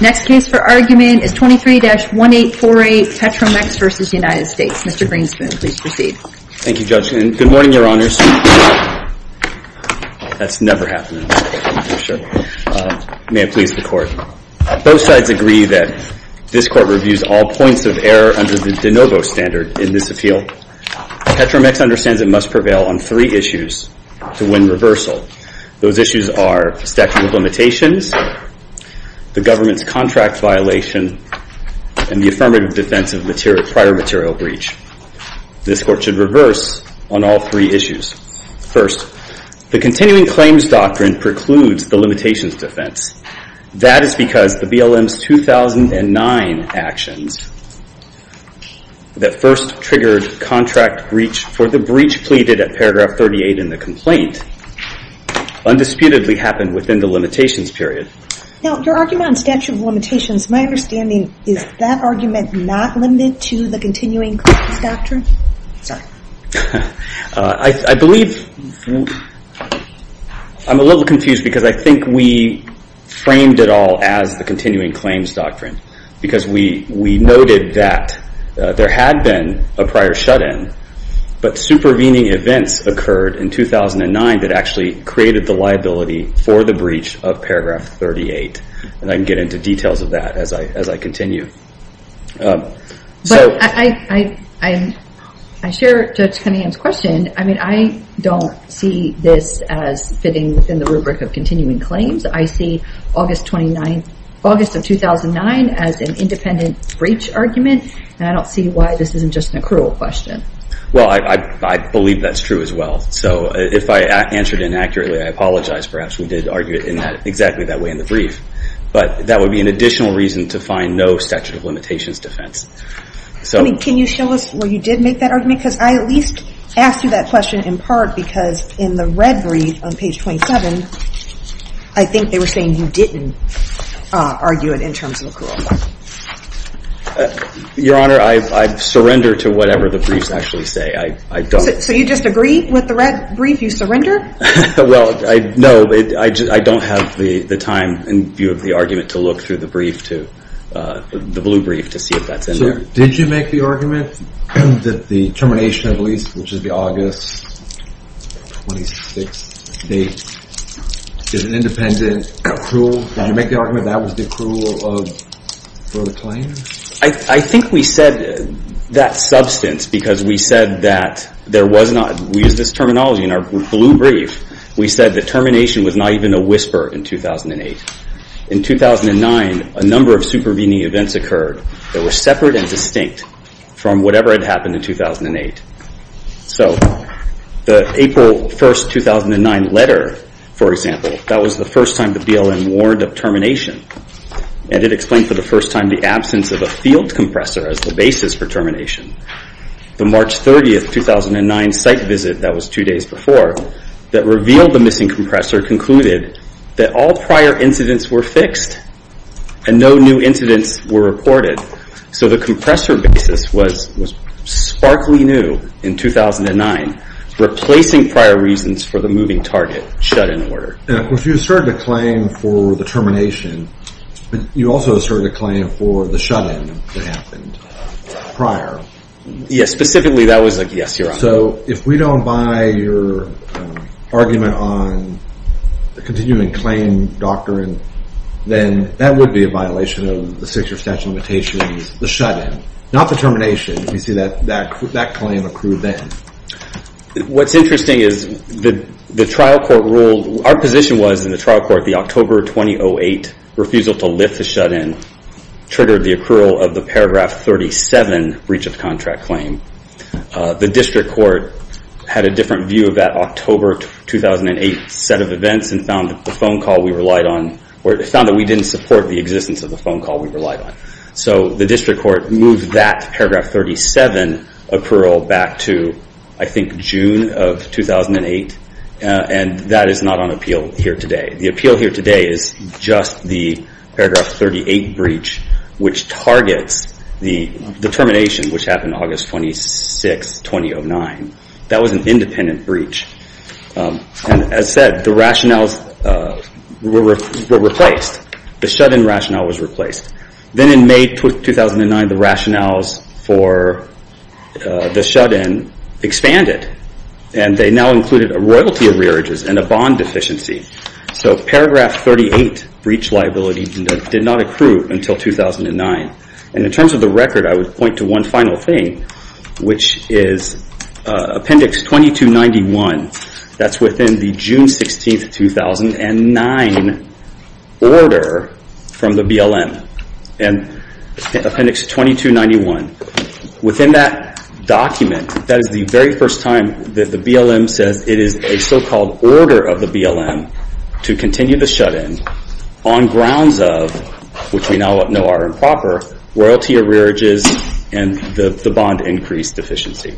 Next case for argument is 23-1848 Petro Mex v. United States. Mr. Greenspoon, please proceed. Thank you, Judge, and good morning, your honors. That's never happening. May I please the court? Both sides agree that this court reviews all points of error under the de novo standard in this appeal. Petro Mex understands it must prevail on three issues to win reversal. Those issues are statute of limitations, the government's contract violation, and the affirmative defense of prior material breach. This court should reverse on all three issues. First, the continuing claims doctrine precludes the limitations defense. That is because the BLM's 2009 actions that first triggered contract breach for the breach pleaded at paragraph 38 in the complaint undisputedly happened within the limitations period. Now, your argument on statute of limitations, my understanding, is that argument not limited to the continuing claims doctrine? I'm a little confused because I think we framed it all as the continuing claims doctrine because we noted that there had been a prior shut-in, but supervening events occurred in 2009 that actually created the liability for the breach of paragraph 38. I can get into details of that as I continue. I share Judge Cunningham's question. I don't see this as fitting within the rubric of continuing claims. I see August of 2009 as an independent breach argument, and I don't see why this isn't just an accrual question. Well, I believe that's true as well. If I answered inaccurately, I apologize. Perhaps we did argue it exactly that way in the brief, but that would be an additional reason to find no statute of limitations defense. Can you show us where you did make that argument? Because I at least asked you that question in part because in the red brief on page 27, I think they were saying you didn't argue it in terms of accrual. Your Honor, I surrender to whatever the briefs actually say. So you just agree with the red brief? You surrender? Well, no. I don't have the time in view of the argument to look through the brief, the blue brief, to see if that's in there. Did you make the argument that the termination of lease, which is the August 26th date, is an independent accrual? Did you make the argument that was the accrual of the claim? I think we said that substance because we said that there was not, we used this terminology in our blue brief, we said the termination was not even a whisper in 2008. In 2009, a number of supervening events occurred that were separate and distinct from whatever had happened in 2008. So the April 1st, 2009 letter, for example, that was the first time the BLM warned of termination, and it explained for the first time the absence of a field compressor as the basis for termination. The March 30th, 2009 site visit, that was two days before, that revealed the missing compressor concluded that all prior incidents were fixed and no new incidents were reported. So the compressor basis was sparkly new in 2009, replacing prior reasons for the moving target shut-in order. If you asserted a claim for the termination, but you also asserted a claim for the shut-in that happened prior. Yes, specifically that was a yes or a no. So if we don't buy your argument on the continuing claim doctrine, then that would be a violation of the six year statute of limitations, the shut-in, not the termination. You see that claim accrued then. What's interesting is the trial court ruled, our position was in the trial court, the October 2008 refusal to lift the shut-in triggered the accrual of the paragraph 37 breach of contract claim. The district court had a different view of that October 2008 set of events and found the phone call we relied on, or found that we didn't support the existence of the phone call we relied on. So the district court moved that paragraph 37 accrual back to, I think, June of 2008. And that is not on appeal here today. The appeal here today is just the paragraph 38 breach, which targets the termination, which happened August 26, 2009. That was an independent breach. And as said, the rationales were replaced. The shut-in rationale was replaced. Then in May 2009, the rationales for the shut-in expanded. And they now included a royalty of rearages and a bond deficiency. So paragraph 38 breach liability did not accrue until 2009. And in terms of the record, I would point to one final thing, which is appendix 2291. That's within the June 16, 2009 order from the BLM. And appendix 2291. Within that document, that is the very first time that the BLM says it is a so-called order of the BLM to continue the shut-in on grounds of, which we now know are improper, royalty of rearages and the bond increase deficiency.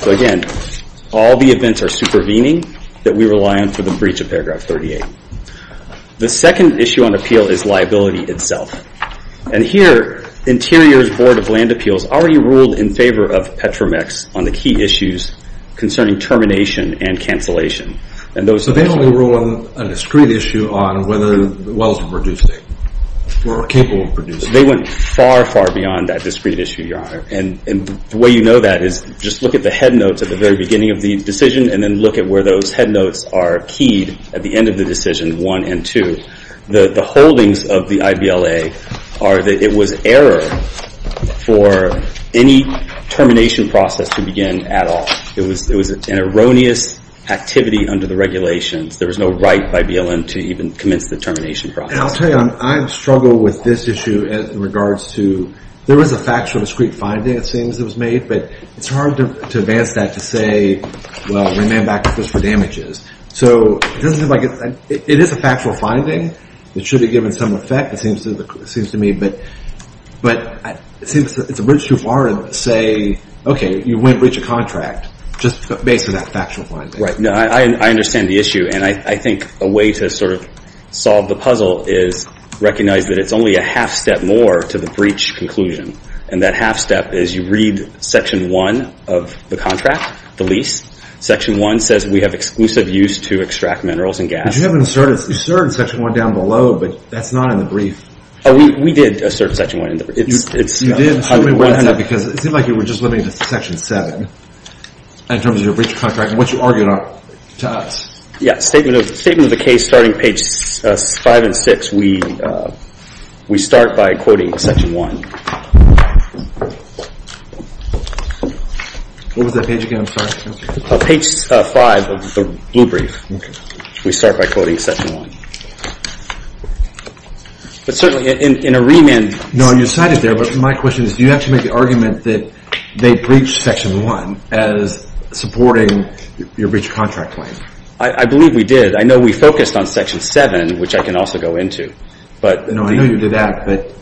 So again, all the events are supervening that we rely on for the breach of paragraph 38. The second issue on appeal is liability itself. And here, Interior's Board of Land Appeals already ruled in favor of Petramex on the key issues concerning termination and cancellation. So they only ruled on a discrete issue on whether the wells were capable of producing. They went far, far beyond that discrete issue, Your Honor. And the way you know that is just look at the headnotes at the very beginning of the decision and then look at where those headnotes are keyed at the end of the decision one and two. The holdings of the IBLA are that it was error for any termination process to begin at all. It was an erroneous activity under the regulations. There was no right by BLM to even commence the termination process. And I'll tell you, I struggle with this issue in regards to there was a factual discrete finding, it seems, that was made. But it's hard to advance that to say, well, we may have back up this for damages. So it is a factual finding. It should have given some effect, it seems to me. But it seems it's a bridge too far to say, okay, you wouldn't breach a contract just based on that factual finding. Right. No, I understand the issue. And I think a way to sort of solve the puzzle is recognize that it's only a half step more to the breach conclusion. And that half step is you read section one of the contract, the lease. Section one says we have exclusive use to extract minerals and gas. But you haven't asserted section one down below, but that's not in the brief. Oh, we did assert section one in the brief. You did, because it seems like you were just limiting it to section seven in terms of your breach of contract, which you argued to us. Yeah, statement of the case starting page five and six, we start by quoting section one. What was that page again, I'm sorry? Page five of the blue brief. We start by quoting section one. But certainly in a remand. No, you cited there, but my question is, do you have to make the argument that they breached section one as supporting your breach of contract claim? I believe we did. I know we focused on section seven, which I can also go into. No, I know you did that, but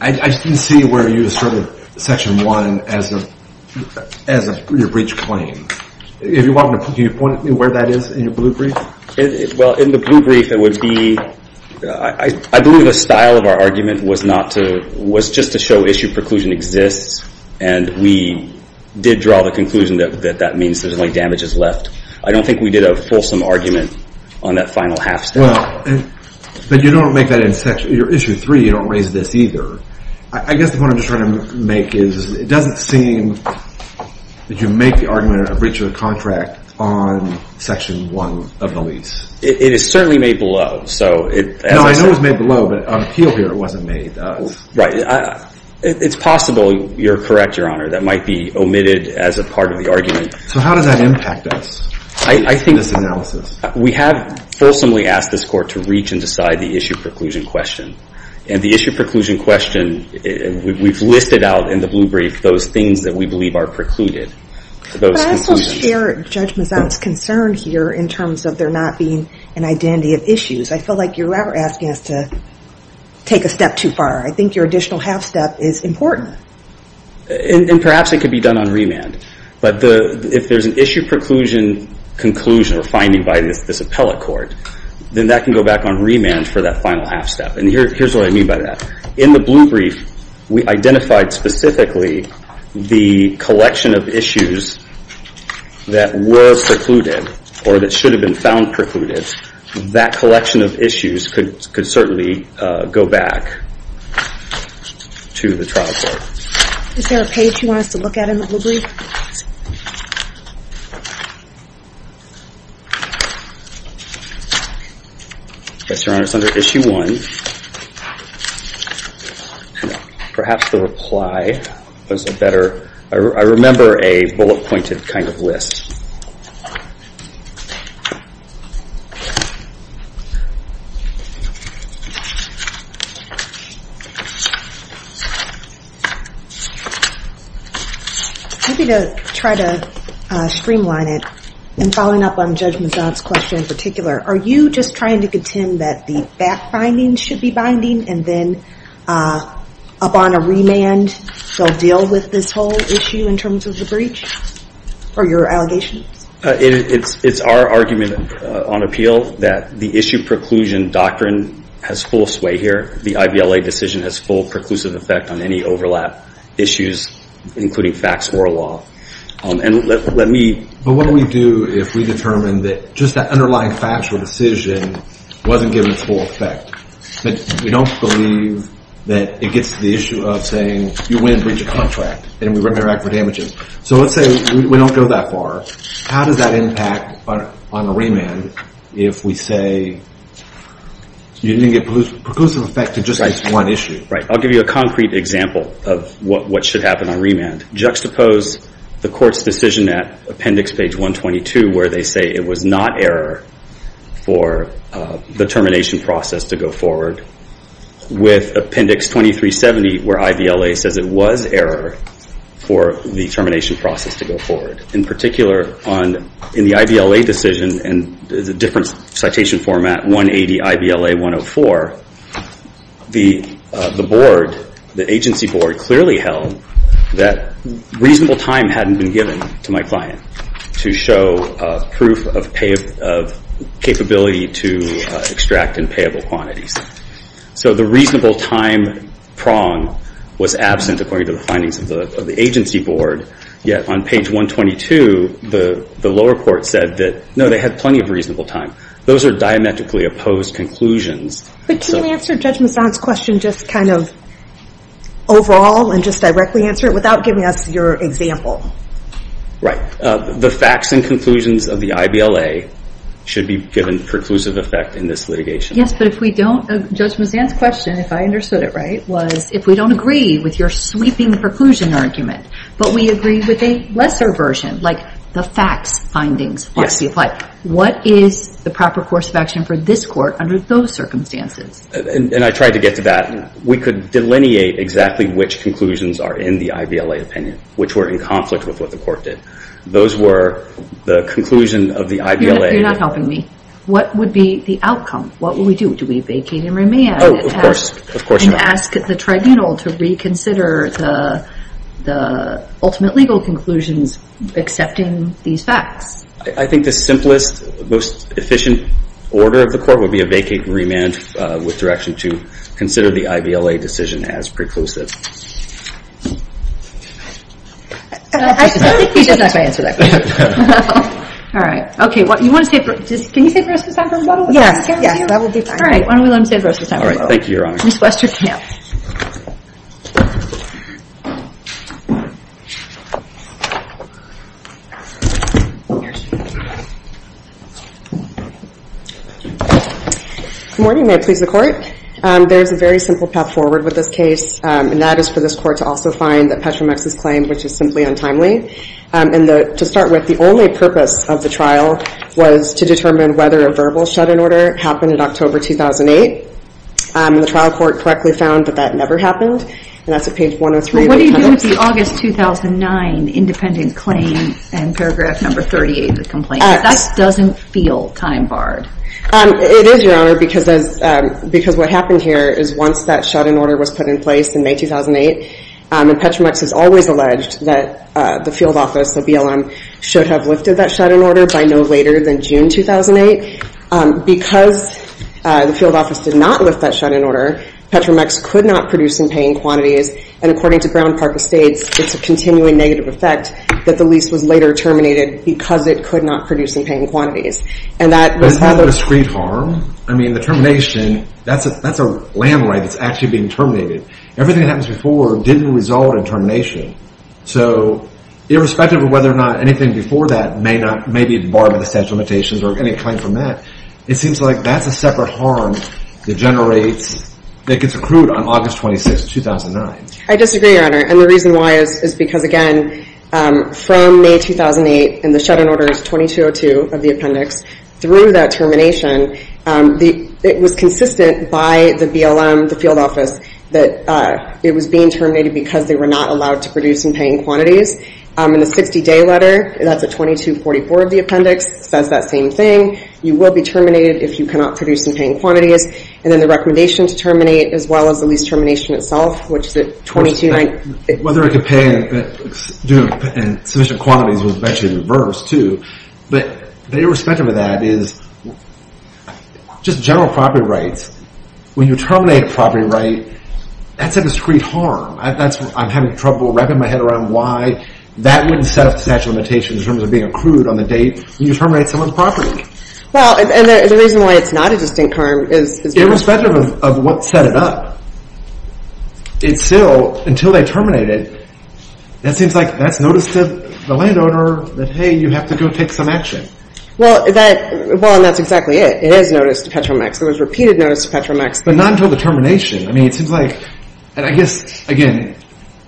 I didn't see where you asserted section one as your breach claim. If you want, can you point at me where that is in your blue brief? Well, in the blue brief, it would be, I believe the style of our argument was not to, was just to show issue preclusion exists. And we did draw the conclusion that that means there's only damages left. I don't think we did a fulsome argument on that final half step. Well, but you don't make that in section, your issue three, you don't raise this either. I guess the point I'm just trying to make is, it doesn't seem that you make the argument of a breach of contract on section one of the lease. It is certainly made below. No, I know it was made below, but on appeal here, it wasn't made. Right. It's possible, you're correct, Your Honor, that might be omitted as a part of the argument. So how does that impact us in this analysis? I think we have fulsomely asked this court to reach and decide the issue preclusion question. And the issue preclusion question, we've listed out in the blue brief those things that we believe are precluded. But I also share Judge Mazzot's concern here in terms of there not being an identity of issues. I feel like you're asking us to take a step too far. I think your additional half step is important. And perhaps it could be done on remand. But if there's an issue preclusion conclusion or finding by this appellate court, then that can go back on remand for that final half step. And here's what I mean by that. In the blue brief, we identified specifically the collection of issues that were precluded or that should have been found precluded. That collection of issues could certainly go back to the trial court. Is there a page you want us to look at in the blue brief? Yes, Your Honor. It's under issue one. Perhaps the reply was a better, I remember a bullet-pointed list. Maybe to try to streamline it and following up on Judge Mazzot's question in particular, are you just trying to contend that the back finding should be binding and then up on a remand, they'll deal with this whole issue in terms of the breach? It's our argument on appeal that the issue preclusion doctrine has full sway here. The IVLA decision has full preclusive effect on any overlap issues, including facts or law. But what do we do if we determine that just that underlying factual decision wasn't given full effect? We don't believe that it gets to the issue of saying, you went and breached a contract, and we went back for damages. So let's say we don't go that far. How does that impact on a remand if we say you didn't get preclusive effect to just one issue? I'll give you a concrete example of what should happen on remand. Juxtapose the court's decision at appendix page 122 where they say it was not error for the termination process to go forward with appendix 2370 where IVLA says it was error for the termination process to go forward. In particular, in the IVLA decision, and there's a different citation format, 180 IVLA 104, the agency board clearly held that reasonable time hadn't been given to my client to show proof of capability to extract in payable quantities. So the reasonable time prong was absent according to the findings of the agency board. Yet on page 122, the lower court said that, no, they had plenty of reasonable time. Those are diametrically opposed conclusions. But can you answer Judge Masson's question just kind of overall and just directly answer it without giving us your example? Right. The facts and conclusions of the IVLA should be given preclusive effect in this litigation. Yes, but if we don't, Judge Masson's question, if I understood it right, was if we don't agree with your sweeping preclusion argument, but we agree with a lesser version, like the facts findings, what is the proper course of action for this court under those circumstances? And I tried to get to that. We could delineate exactly which conclusions are in the IVLA opinion, which were in conflict with what the court did. Those were the conclusion of the IVLA. You're not helping me. What would be the outcome? What would we do? Do we vacate and remand? Oh, of course. Of course not. And ask the tribunal to reconsider the ultimate legal conclusions accepting these facts? I think the simplest, most efficient order of the court would be a vacate and remand with direction to consider the IVLA decision as preclusive. I think he doesn't have to answer that question. All right. Okay. Can you say the rest of the time for me? Yes. Yes, that will be fine. All right. Why don't we let him say the rest of the time? All right. Thank you, Your Honor. Ms. Westerfield. Good morning. May it please the Court? There is a very simple path forward with this case, and that is for this Court to also find that Petramex's claim, which is simply untimely. And to start with, the only purpose of the trial was to determine whether a verbal shut-in order happened in October 2008. The trial court correctly found that that never happened, and that's at page 103. Well, what do you do with the August 2009 independent claim and paragraph number 38 of the complaint? That doesn't feel time-barred. It is, Your Honor, because what happened here is once that shut-in order was put in place, in May 2008, Petramex has always alleged that the field office, the BLM, should have lifted that shut-in order by no later than June 2008. Because the field office did not lift that shut-in order, Petramex could not produce in paying quantities, and according to Brown, Parker States, it's a continuing negative effect that the lease was later terminated because it could not produce in paying quantities. And that was part of the discrete harm. I mean, the termination, that's a land right that's actually being terminated. Everything that happens before didn't result in termination. So irrespective of whether or not anything before that may be barred by the statute of limitations or any claim from that, it seems like that's a separate harm that generates, that gets accrued on August 26, 2009. I disagree, Your Honor, and the reason why is because, again, from May 2008, and the shut-in order is 2202 of the appendix, through that termination, the, it was consistent by the BLM, the field office, that it was being terminated because they were not allowed to produce in paying quantities. In the 60-day letter, that's a 2244 of the appendix, says that same thing. You will be terminated if you cannot produce in paying quantities. And then the recommendation to terminate, as well as the lease termination itself, which is a 2290. Whether it could pay in sufficient quantities was eventually reversed, too. But the irrespective of that is, just general property rights, when you terminate a property right, that's a discrete harm. That's, I'm having trouble wrapping my head around why that wouldn't set up the statute of limitations in terms of being accrued on the date when you terminate someone's property. Well, and the reason why it's not a distinct harm is... Irrespective of what set it up, it's still, until they terminate it, that seems like that's notice to the landowner that, hey, you have to go take some action. Well, that, well, and that's exactly it. It is notice to Petromax. There was repeated notice to Petromax. But not until the termination. I mean, it seems like, and I guess, again,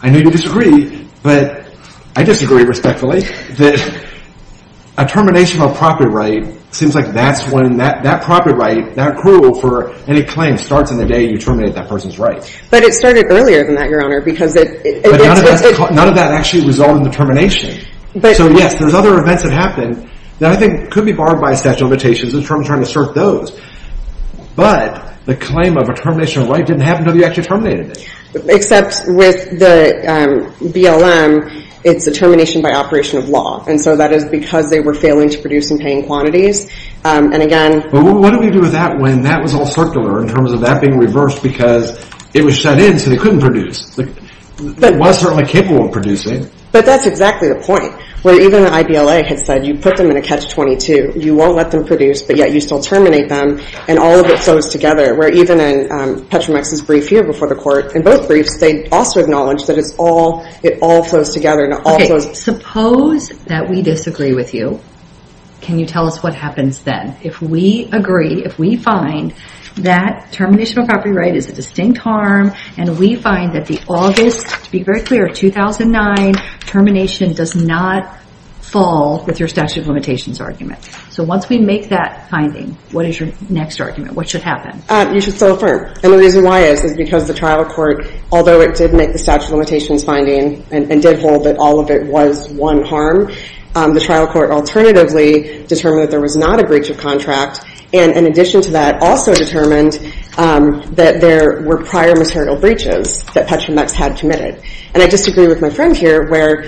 I know you disagree, but I disagree respectfully, that a termination of a property right seems like that's when that property right, that accrual for any claim starts on the day you terminate that person's right. But it started earlier than that, Your Honor, because it... None of that actually resulted in the termination. But... So, yes, there's other events that happened that I think could be barred by a statute of limitations in terms of trying to assert those. But the claim of a termination of a right didn't happen until you actually terminated it. Except with the BLM, it's a termination by operation of law. And so that is because they were failing to produce in paying quantities. And again... But what do we do with that when that was all circular in terms of that being reversed because it was sent in so they couldn't produce? That was certainly capable of producing. But that's exactly the point, where even the IBLA had said, you put them in a catch-22, you won't let them produce, but yet you still terminate them, and all of it flows together. Where even in Petromex's brief here before the court, in both briefs, they also acknowledged that it's all, it all flows together and all flows... Suppose that we disagree with you. Can you tell us what happens then? If we agree, if we find that termination of a property right is a distinct harm, and we find that the August, to be very clear, 2009 termination does not fall with your statute of limitations argument. So once we make that finding, what is your next argument? What should happen? You should still affirm. And the reason why is, is because the trial court, although it did make the statute of limitations finding and did hold that all of it was one harm, the trial court alternatively determined that there was not a breach of contract. And in addition to that, also determined that there were prior material breaches that Petromex had committed. And I disagree with my friend here where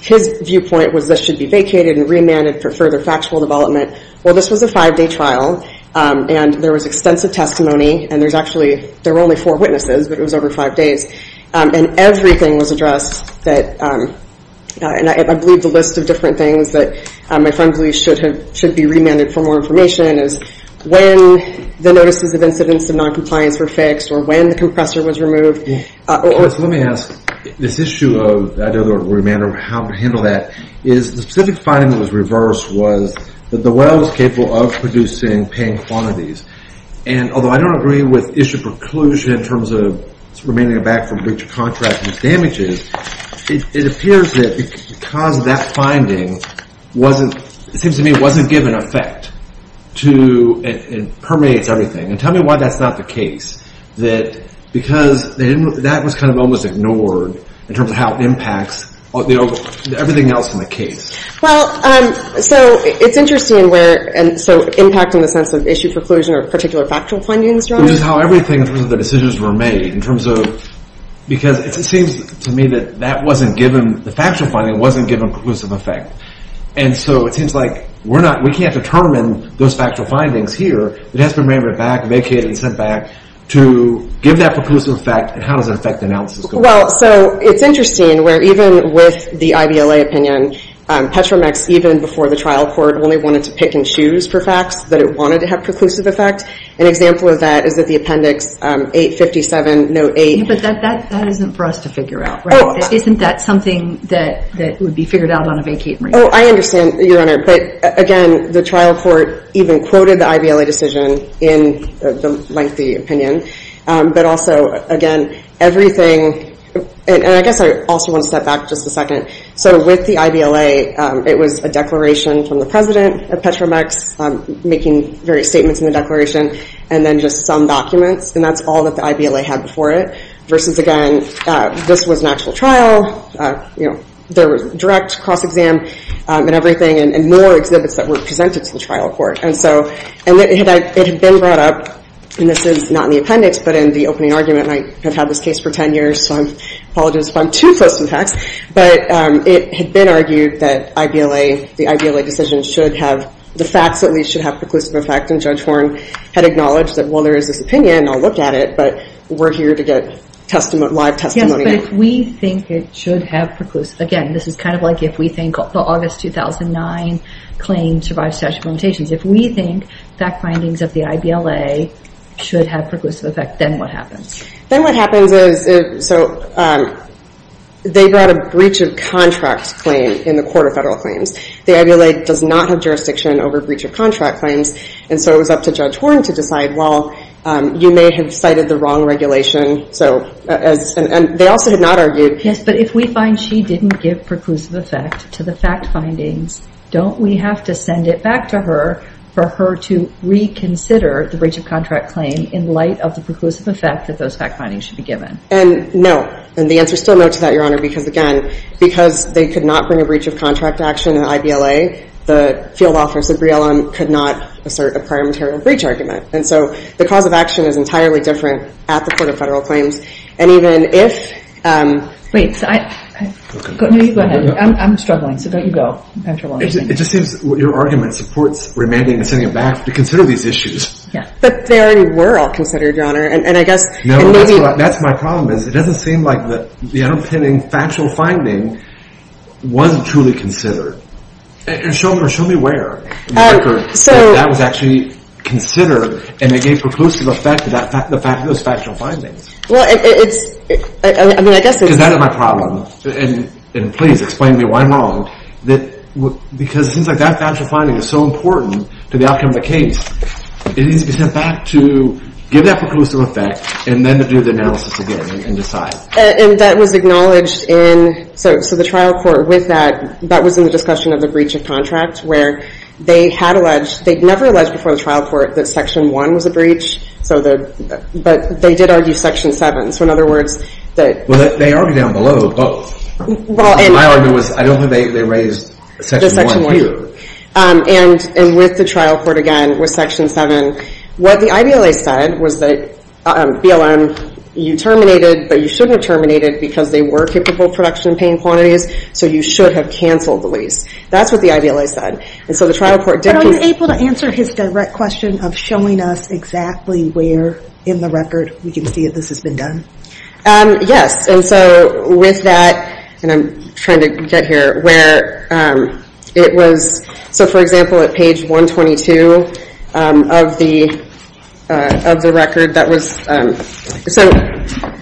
his viewpoint was this should be vacated and remanded for further factual development. Well, this was a five-day trial and there was extensive testimony and there's actually, there were only four witnesses, but it was over five days. And everything was addressed that, and I believe the list of different things that my friend believes should have, should be remanded for more information is when the notices of incidents of non-compliance were fixed or when the compressor was removed. Yes, let me ask this issue of remand or how to handle that is the specific finding that was reversed was that the well was capable of producing paying quantities. And although I don't agree with issue preclusion in terms of remaining aback from breach of contract and its damages, it appears that because of that finding wasn't, it seems to me it wasn't given effect to, it permeates everything. And tell me why that's not the case. That because that was kind of almost ignored in terms of how it impacts everything else in the case. Well, so it's interesting where, and so impact in the sense of issue preclusion or particular factual findings. Which is how everything in terms of the decisions were made in terms of, because it seems to me that that wasn't given, the factual finding wasn't given preclusive effect. And so it seems like we're not, we can't determine those factual findings here. It has to be remanded back, vacated and sent back to give that preclusive effect. And how does it affect the analysis? Well, so it's interesting where even with the IVLA opinion, Petromex, even before the trial court, only wanted to pick and choose for facts that it wanted to have preclusive effect. An example of that is that the Appendix 857, Note 8. But that isn't for us to figure out, right? Isn't that something that would be figured out on a vacating basis? Oh, I understand, Your Honor. But again, the trial court even quoted the IVLA decision in the lengthy opinion. But also, again, everything, and I guess I also want to step back just a second. So with the IVLA, it was a declaration from the president of Petromex making various statements in the declaration, and then just some documents. And that's all that the IVLA had before it. Versus again, this was an actual trial, there was direct cross-exam and everything, and more exhibits that were presented to the trial court. And so, and it had been brought up, and this is not in the appendix, but in the opening argument, and I have had this case for 10 years, so I apologize if I'm too close to the facts. But it had been argued that the IVLA decision should have, the facts at least, should have preclusive effect. And Judge Horne had acknowledged that, well, there is this opinion, I'll look at it, but we're here to get live testimony. Yes, but if we think it should have preclusive, again, this is kind of like if we think the August 2009 claim survives statutory limitations. If we think fact findings of the IVLA should have preclusive effect, then what happens? Then what happens is, so they brought a breach of contract claim in the Court of Federal Claims. The IVLA does not have jurisdiction over breach of contract claims, and so it was up to Judge Horne to decide, well, you may have cited the wrong regulation. So, and they also did not argue. Yes, but if we find she didn't give preclusive effect to the fact findings, don't we have to send it back to her for her to reconsider the breach of contract claim in light of the preclusive effect that those fact findings should be given? And no, and the answer's still no to that, Your Honor, because again, because they could not bring a breach of contract action in the IVLA, the field office at Briellum could not assert a prior material breach argument. And so the cause of action is entirely different at the Court of Federal Claims. And even if- Wait, so I, go ahead. I'm struggling, so don't you go. It just seems your argument supports remanding and sending it back to consider these issues. Yeah, but they already were all considered, Your Honor, and I guess- No, that's my problem, is it doesn't seem like the unopening factual finding wasn't truly considered. And show me where in the record that that was actually considered and it gave preclusive effect to those factual findings. Well, it's, I mean, I guess it's- Because that is my problem, and please explain to me why I'm wrong, because it seems like that factual finding is so important to the outcome of the case. It needs to be sent back to give that preclusive effect and then to do the analysis again and decide. And that was acknowledged in, so the trial court with that, that was in the discussion of the breach of contract where they had alleged, they'd never alleged before the trial court that section one was a breach, so the, but they did argue section seven. So in other words, that- Well, they argued down below both. Well, and- My argument was, I don't think they raised section one either. And with the trial court, again, with section seven, what the IBLA said was that, BLM, you terminated, but you shouldn't have terminated because they were capable of production and paying quantities, so you should have canceled the lease. That's what the IBLA said. And so the trial court didn't- But are you able to answer his direct question of showing us exactly where in the record we can see that this has been done? Yes, and so with that, and I'm trying to get here, where it was, so for example, at page 122 of the record, that was, so,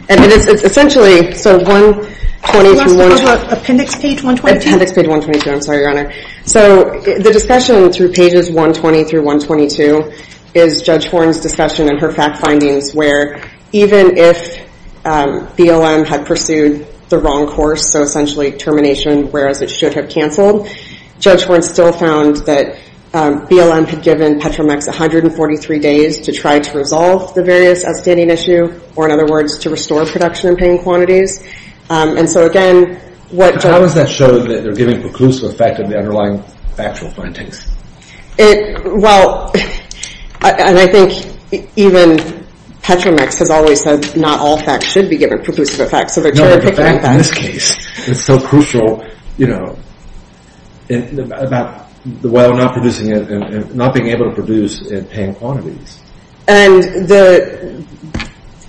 and it is essentially, so 120- You asked about appendix page 122? Appendix page 122, I'm sorry, Your Honor. So the discussion through pages 120 through 122 is Judge Horne's discussion and her fact findings where even if BLM had pursued the wrong course, so essentially termination, whereas it should have canceled, Judge Horne still found that BLM had given Petromex 143 days to try to resolve the various outstanding issue, or in other words, to restore production in paying quantities. And so again, what- How has that shown that they're giving preclusive effect of the underlying factual findings? Well, and I think even Petromex has always said not all facts should be given preclusive effect. So they're trying to pick out that- No, but the fact in this case is so crucial, you know, about the way we're not producing it and not being able to produce in paying quantities. And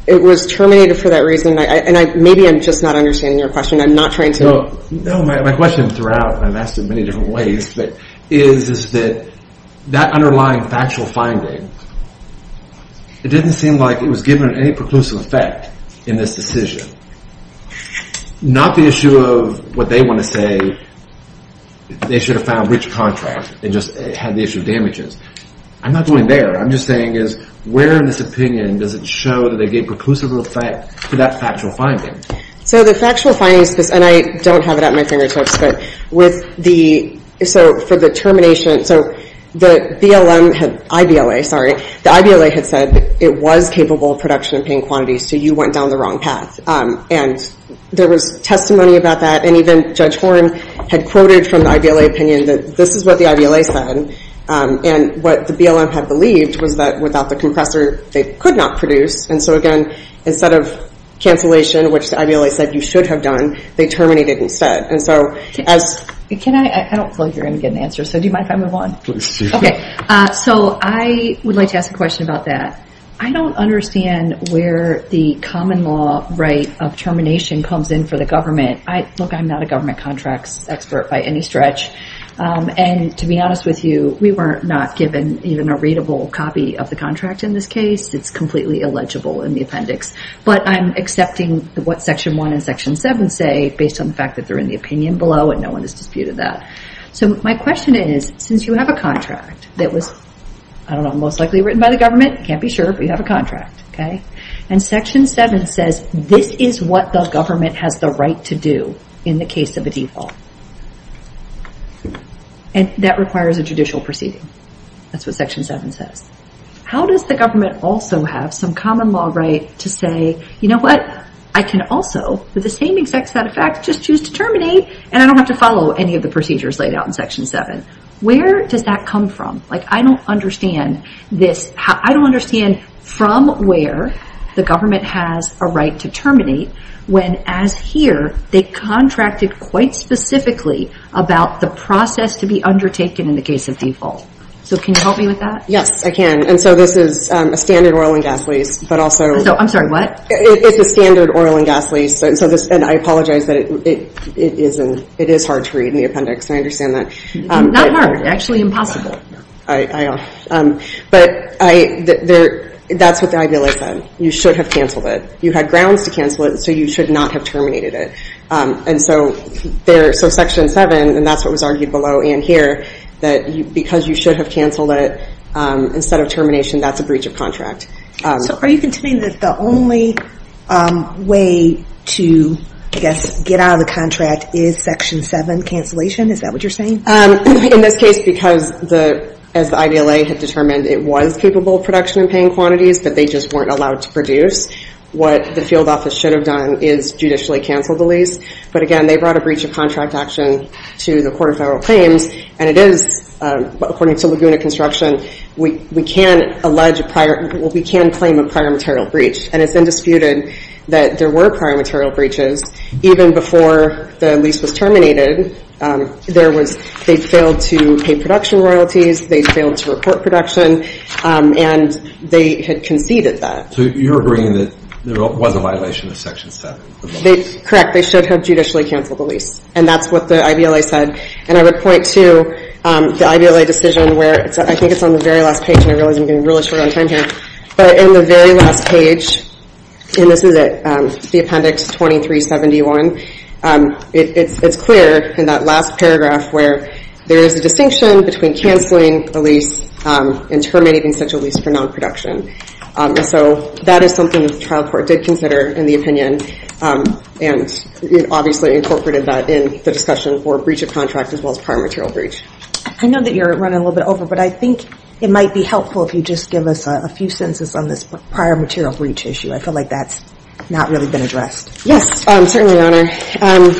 it was terminated for that reason. And maybe I'm just not understanding your question. I'm not trying to- No, my question throughout, and I've asked in many different ways, but is that that underlying factual finding, it didn't seem like it was given any preclusive effect in this decision. Not the issue of what they want to say, they should have found breach of contract and just had the issue of damages. I'm not going there. I'm just saying is where in this opinion does it show that they gave preclusive effect to that factual finding? So the factual findings, and I don't have it at my fingertips, but with the- So for the termination, so the BLM had- IVLA, sorry. The IVLA had said it was capable of production in paying quantities. So you went down the wrong path. And there was testimony about that. And even Judge Horne had quoted from the IVLA opinion that this is what the IVLA said. And what the BLM had believed was that without the compressor, they could not produce. And so again, instead of cancellation, which the IVLA said you should have done, they terminated instead. And so as- I don't feel like you're going to get an answer. So do you mind if I move on? Please do. Okay. So I would like to ask a question about that. I don't understand where the common law right of termination comes in for the government. Look, I'm not a government contracts expert by any stretch. And to be honest with you, we were not given even a readable copy of the contract in this case. It's completely illegible in the appendix. But I'm accepting what section one and section seven say based on the fact that they're in the opinion below and no one has disputed that. So my question is, since you have a contract that was, I don't know, most likely written by the government, can't be sure, but you have a contract. Okay. And section seven says this is what the government has the right to do in the case of a default. And that requires a judicial proceeding. That's what section seven says. How does the government also have some common law right to say, you know what? I can also, with the same exact set of facts, just choose to terminate and I don't have to follow any of the procedures laid out in section seven. Where does that come from? Like, I don't understand this. I don't understand from where the government has a right to terminate when as here, they contracted quite specifically about the process to be undertaken in the case of default. So can you help me with that? Yes, I can. And so this is a standard oil and gas lease, but also... So I'm sorry, what? It's a standard oil and gas lease. So this, and I apologize that it isn't, it is hard to read in the appendix. I understand that. Not hard, actually impossible. I know. But that's what the IBLA said. You should have canceled it. You had grounds to cancel it. So you should not have terminated it. And so there, so section seven, and that's what was argued below in here, that because you should have canceled it instead of termination, that's a breach of contract. So are you contending that the only way to, I guess, get out of the contract is section seven cancellation? Is that what you're saying? In this case, because the, as the IDLA had determined, it was capable of production and paying quantities, but they just weren't allowed to produce. What the field office should have done is judicially canceled the lease. But again, they brought a breach of contract action to the Court of Federal Claims. And it is, according to Laguna Construction, we can allege a prior, we can claim a prior material breach. And it's undisputed that there were prior material breaches even before the lease was terminated. There was, they failed to pay production royalties. They failed to report production. And they had conceded that. So you're agreeing that there was a violation of section seven? They, correct. They should have judicially canceled the lease. And that's what the IDLA said. And I would point to the IDLA decision where it's, I think it's on the very last page, and I realize I'm getting really short on time here. But in the very last page, and this is it, the appendix 2371, it's clear in that last paragraph where there is a distinction between canceling a lease and terminating such a lease for non-production. So that is something that the trial court did consider in the opinion. And it obviously incorporated that in the discussion for breach of contract as well as prior material breach. I know that you're running a little bit over, but I think it might be helpful if you just give us a few sentences on this prior material breach issue. I feel like that's not really been addressed. Yes, certainly, Your Honor.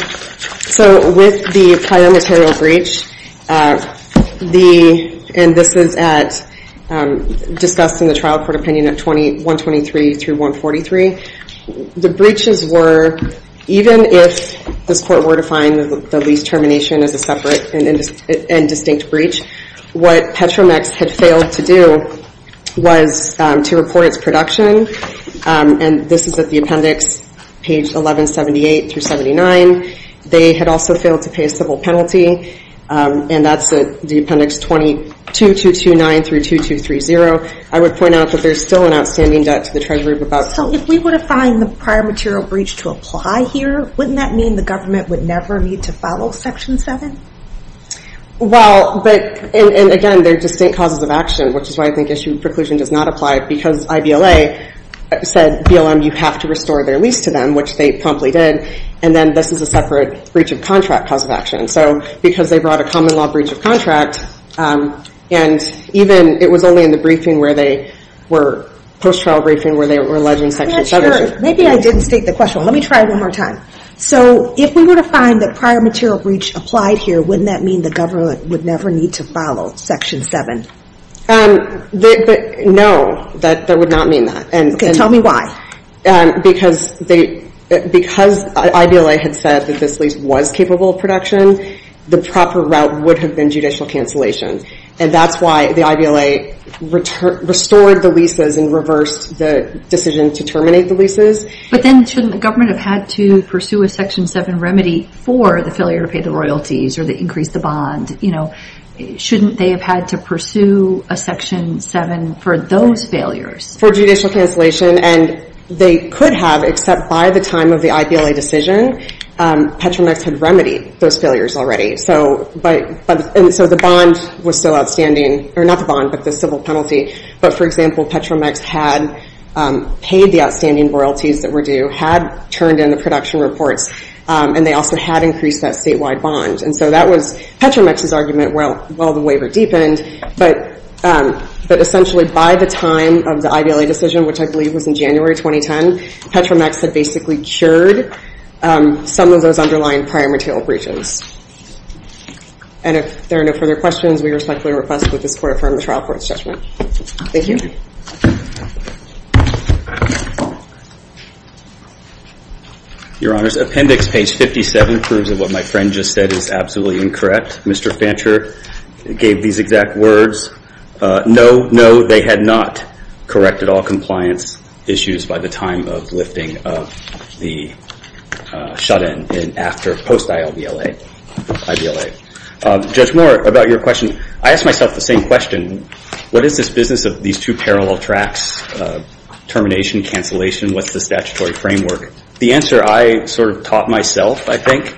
So with the prior material breach, the, and this is at, discussed in the trial court opinion at 123 through 143, the breaches were, even if this court were to find the lease termination as a separate and distinct breach, what Petromex had failed to do was to report its production. And this is at the appendix, page 1178 through 79. They had also failed to pay a civil penalty. And that's at the appendix 22229 through 2230. I would point out that there's still an outstanding debt to the Treasury of about... So if we were to find the prior material breach to apply here, wouldn't that mean the government would never need to follow Section 7? Well, but, and again, they're distinct causes of action, which is why I think issue preclusion does not apply because IBLA said, BLM, you have to restore their lease to them, which they promptly did. And then this is a separate breach of contract cause of action. So because they brought a common law breach of contract, and even, it was only in the briefing where they were, post-trial briefing, where they were alleging Section 7. Maybe I didn't state the question. Let me try it one more time. So if we were to find the prior material breach applied here, wouldn't that mean the government would never need to follow Section 7? But no, that would not mean that. Okay, tell me why. Because they, because IBLA had said that this lease was capable of production, the proper route would have been judicial cancellation. And that's why the IBLA restored the leases and reversed the decision to terminate the leases. But then shouldn't the government have had to pursue a Section 7 remedy for the failure to pay the royalties or to increase the bond? Shouldn't they have had to pursue a Section 7 for those failures? For judicial cancellation. And they could have, except by the time of the IBLA decision, Petronex had remedied those failures already. So, but, and so the bond was still outstanding, or not the bond, but the civil penalty. But for example, Petronex had paid the outstanding royalties that were due, had turned in the production reports, and they also had increased that statewide bond. And so that was Petronex's argument while the waiver deepened, but essentially by the time of the IBLA decision, which I believe was in January 2010, Petronex had basically cured some of those underlying prior material breaches. And if there are no further questions, we respectfully request that this Court affirm the trial court's judgment. Thank you. Your Honors, appendix page 57 proves that what my friend just said is absolutely incorrect. Mr. Fancher gave these exact words. No, no, they had not corrected all compliance issues by the time of lifting of the shut-in and after post-ILBLA, IBLA. Judge Moore, about your question, I asked myself the same question. What is this business of these two parallel tracks, termination, cancellation? What's the statutory framework? The answer I sort of taught myself, I think,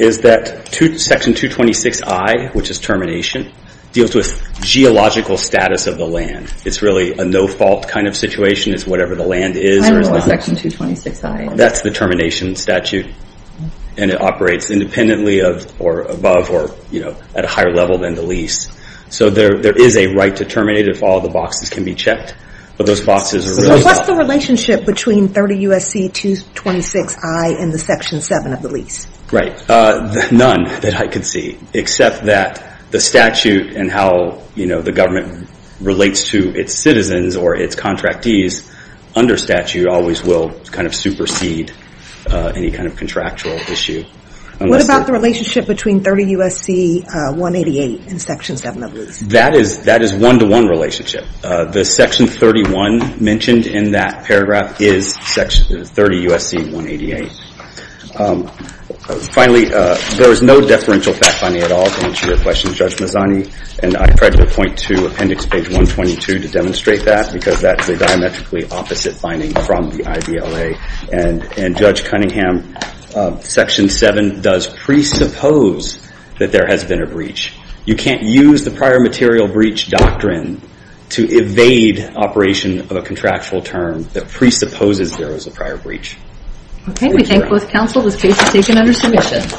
is that section 226I, which is termination, deals with geological status of the land. It's really a no-fault kind of situation. It's whatever the land is. I don't know what section 226I is. That's the termination statute, and it operates independently of or above or, you know, at a higher level than the lease. So there is a right to terminate if all the boxes can be checked, but those boxes are really... So what's the relationship between 30 U.S.C. 226I and the section 7 of the lease? Right, none that I could see, except that the statute and how, you know, the government relates to its citizens or its contractees under statute always will kind of supersede any kind of contractual issue. What about the relationship between 30 U.S.C. 188 and section 7 of the lease? That is one-to-one relationship. The section 31 mentioned in that paragraph is 30 U.S.C. 188. Finally, there is no deferential fact-finding at all to answer your question, Judge Mazzani, and I'm trying to point to appendix page 122 to demonstrate that because that's the diametrically opposite finding from the IVLA. And Judge Cunningham, section 7 does presuppose that there has been a breach. You can't use the prior material breach doctrine to evade operation of a contractual term that presupposes there was a prior breach. Okay, we thank both counsel. This case is taken under submission.